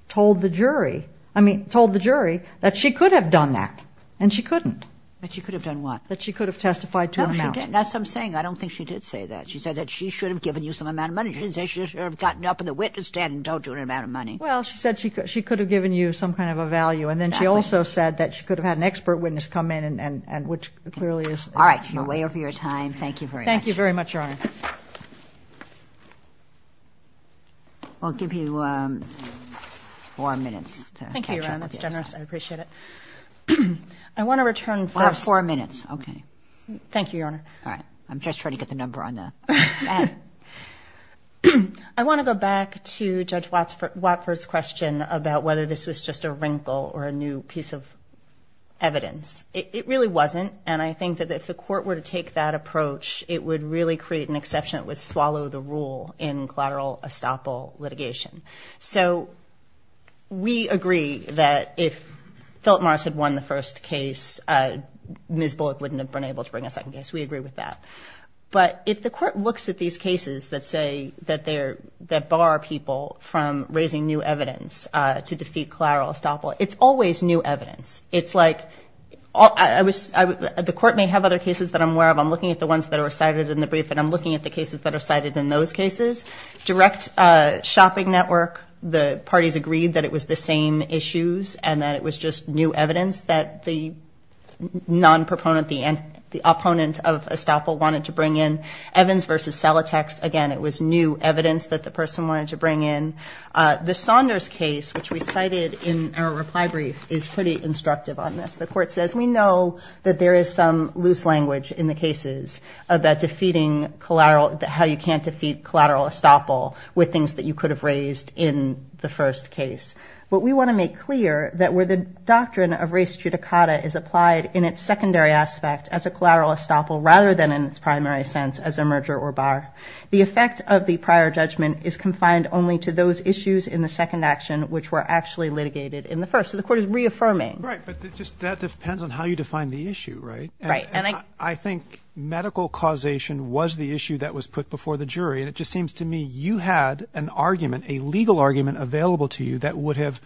told the jury, I mean, told the jury that she could have done that, and she couldn't. That she could have done what? That she could have testified to an amount. No, she didn't. That's what I'm saying. I don't think she did say that. She said that she should have given you some amount of money. She didn't say she should have gotten up on the witness stand and told you an amount of money. Well, she said she could have given you some kind of a value. Exactly. And then she also said that she could have had an expert witness come in, and which clearly is incorrect. All right. You're way over your time. Thank you very much. Thank you very much, Your Honor. I'll give you four minutes to catch up. Thank you, Your Honor. That's generous. I appreciate it. I want to return first. Four minutes. Okay. Thank you, Your Honor. All right. I'm just trying to get the number on the bat. I want to go back to Judge Watford's question about whether this was just a wrinkle or a new piece of evidence. It really wasn't, and I think that if the court were to take that approach, it would really create an exception. It would swallow the rule in collateral estoppel litigation. So we agree that if Philip Morris had won the first case, Ms. Bullock wouldn't have been able to bring a second case. We agree with that. But if the court looks at these cases that say that they're – that bar people from raising new evidence to defeat collateral estoppel, it's always new evidence. It's like – the court may have other cases that I'm aware of. I'm looking at the ones that are cited in the brief, and I'm looking at the cases that are cited in those cases. Direct shopping network, the parties agreed that it was the same issues and that it was just new evidence that the non-proponent, the opponent of estoppel wanted to bring in. Evans v. Salatex, again, it was new evidence that the person wanted to bring in. The Saunders case, which we cited in our reply brief, is pretty instructive on this. The court says we know that there is some loose language in the cases about defeating collateral – how you can't defeat collateral estoppel with things that you could have raised in the first case. But we want to make clear that where the doctrine of res judicata is applied in its secondary aspect as a collateral estoppel rather than in its primary sense as a merger or bar, the effect of the prior judgment is confined only to those issues in the second action, which were actually litigated in the first. So the court is reaffirming. Right, but that depends on how you define the issue, right? Right. I think medical causation was the issue that was put before the jury, and it just seems to me you had an argument, a legal argument available to you that would have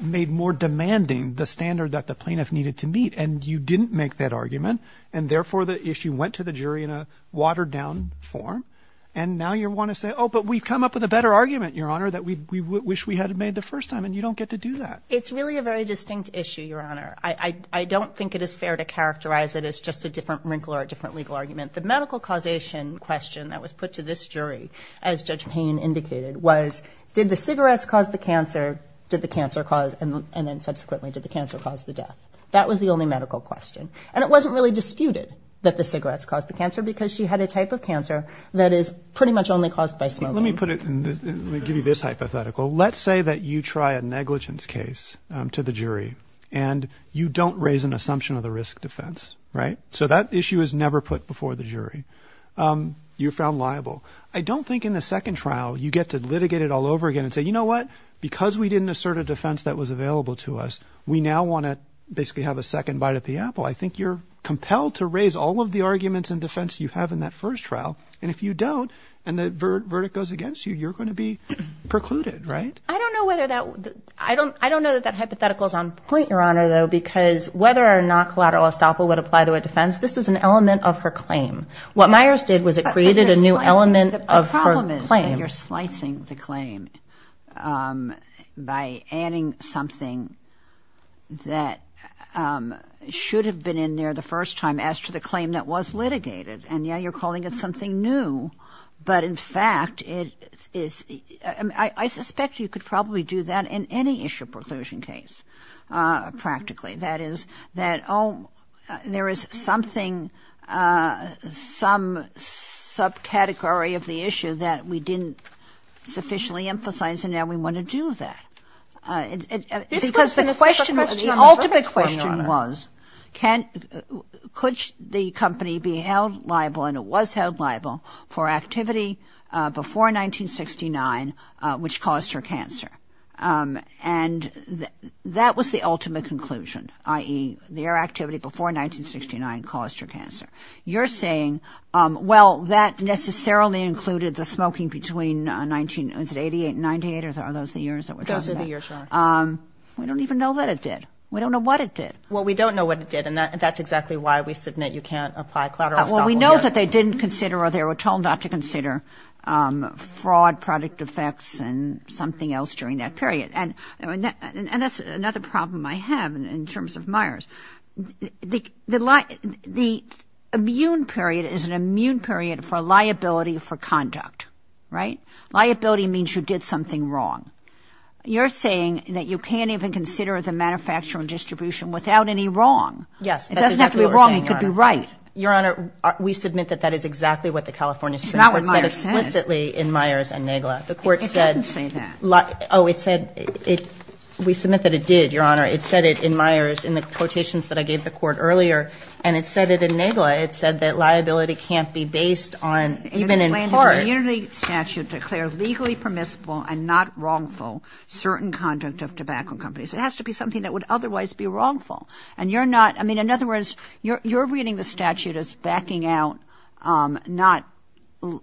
made more demanding the standard that the plaintiff needed to meet, and you didn't make that argument. And therefore, the issue went to the jury in a watered-down form, and now you want to say, oh, but we've come up with a better argument, Your Honor, that we wish we had made the first time, and you don't get to do that. It's really a very distinct issue, Your Honor. I don't think it is fair to characterize it as just a different wrinkle or a different legal argument. The medical causation question that was put to this jury, as Judge Payne indicated, was did the cigarettes cause the cancer, did the cancer cause, and then subsequently, did the cancer cause the death? That was the only medical question. And it wasn't really disputed that the cigarettes caused the cancer, because she had a type of cancer that is pretty much only caused by smoking. Let me put it in this, let me give you this hypothetical. Let's say that you try a negligence case to the jury, and you don't raise an assumption of the risk defense, right? So that issue is never put before the jury. You're found liable. I don't think in the second trial you get to litigate it all over again and say, you know what? Because we didn't assert a defense that was available to us, we now want to basically have a second bite at the apple. I think you're compelled to raise all of the arguments and defense you have in that first trial, and if you don't and the verdict goes against you, you're going to be precluded, right? I don't know whether that, I don't know that that hypothetical is on point, Your Honor, though, because whether or not collateral estoppel would apply to a defense, this is an element of her claim. What Myers did was it created a new element of her claim. You're slicing the claim by adding something that should have been in there the first time as to the claim that was litigated. And, yeah, you're calling it something new. But, in fact, it is, I suspect you could probably do that in any issue preclusion case, practically. That is that, oh, there is something, some subcategory of the issue that we didn't sufficiently emphasize, and now we want to do that. Because the question, the ultimate question was can, could the company be held liable, and it was held liable for activity before 1969 which caused her cancer. And that was the ultimate conclusion, i.e., their activity before 1969 caused her cancer. You're saying, well, that necessarily included the smoking between 1988 and 1998, are those the years that we're talking about? Those are the years, Your Honor. We don't even know that it did. We don't know what it did. Well, we don't know what it did, and that's exactly why we submit you can't apply collateral estoppel. Well, we know that they didn't consider or they were told not to consider fraud, product defects, and something else during that period. And that's another problem I have in terms of Myers. The immune period is an immune period for liability for conduct, right? Liability means you did something wrong. You're saying that you can't even consider the manufacturing distribution without any wrong. Yes, that's exactly what you're saying, Your Honor. It doesn't have to be wrong. We submit that that is exactly what the California Supreme Court said explicitly in Myers and Nagla. It doesn't say that. Oh, it said, we submit that it did, Your Honor. It said it in Myers in the quotations that I gave the Court earlier, and it said it in Nagla. It said that liability can't be based on even in part. In the community statute declared legally permissible and not wrongful certain conduct of tobacco companies. It has to be something that would otherwise be wrongful. I mean, in other words, you're reading the statute as backing out not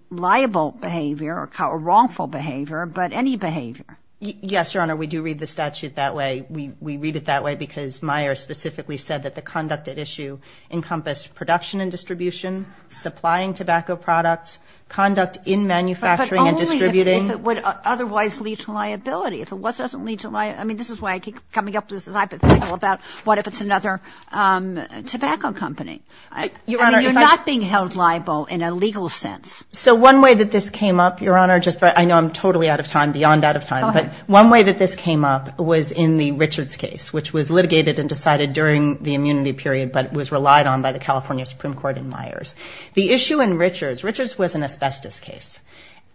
liable behavior or wrongful behavior, but any behavior. Yes, Your Honor. We do read the statute that way. We read it that way because Myers specifically said that the conduct at issue encompassed production and distribution, supplying tobacco products, conduct in manufacturing and distributing. But only if it would otherwise lead to liability. I mean, this is why I keep coming up with this hypothetical about what if it's another tobacco company. I mean, you're not being held liable in a legal sense. So one way that this came up, Your Honor, I know I'm totally out of time, beyond out of time, but one way that this came up was in the Richards case, which was litigated and decided during the immunity period, but was relied on by the California Supreme Court in Myers. The issue in Richards, Richards was an asbestos case,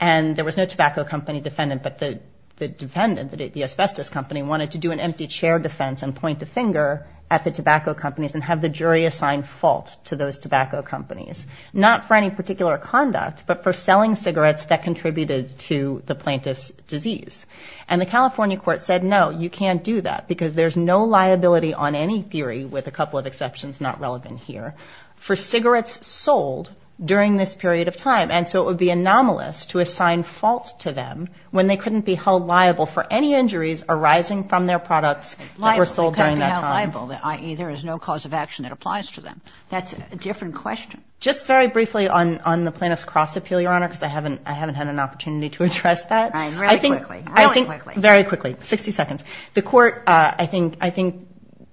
and there was no tobacco company defendant, but the defendant, the asbestos company, wanted to do an empty chair defense and point a finger at the tobacco companies and have the jury assign fault to those tobacco companies. Not for any particular conduct, but for selling cigarettes that contributed to the plaintiff's disease. And the California court said, no, you can't do that because there's no liability on any theory, with a couple of exceptions not relevant here, for cigarettes sold during this period of time. And so it would be anomalous to assign fault to them when they couldn't be held liable for any injuries arising from their products that were sold during that time. They couldn't be held liable, i.e., there is no cause of action that applies to them. That's a different question. Just very briefly on the plaintiff's cross-appeal, Your Honor, because I haven't had an opportunity to address that. All right. Really quickly. Very quickly. 60 seconds. The court, I think,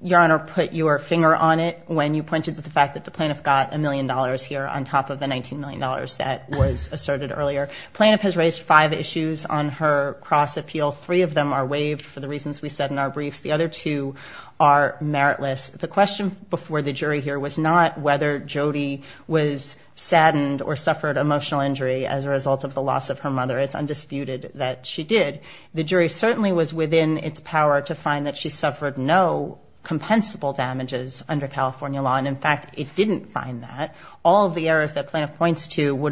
Your Honor, put your finger on it when you pointed to the fact that the plaintiff got a million dollars here on top of the $19 million that was asserted earlier. Plaintiff has raised five issues on her cross-appeal. Three of them are waived for the reasons we said in our briefs. The other two are meritless. The question before the jury here was not whether Jody was saddened or suffered emotional injury as a result of the loss of her mother. It's undisputed that she did. The jury certainly was within its power to find that she suffered no compensable damages under California law. And, in fact, it didn't find that. All of the errors that plaintiff points to,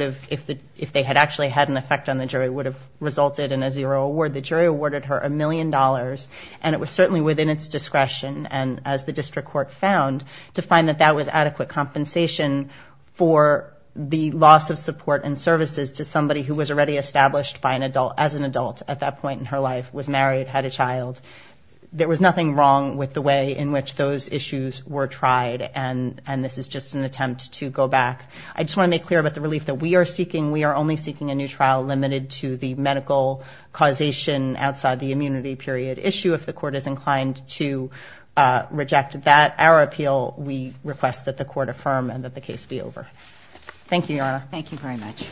if they had actually had an effect on the jury, would have resulted in a zero award. The jury awarded her a million dollars, and it was certainly within its discretion, and as the district court found, to find that that was adequate compensation for the loss of support and services to somebody who was already established as an adult at that point in her life, was married, had a child. There was nothing wrong with the way in which those issues were tried, and this is just an attempt to go back. I just want to make clear about the relief that we are seeking. We are only seeking a new trial limited to the medical causation outside the immunity period issue. If the court is inclined to reject that, our appeal, we request that the court affirm and that the case be over. Thank you, Your Honor. Thank you very much.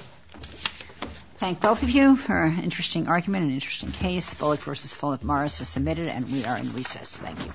Thank both of you for an interesting argument, an interesting case. Bullock v. Fulop Morris is submitted, and we are in recess. Thank you.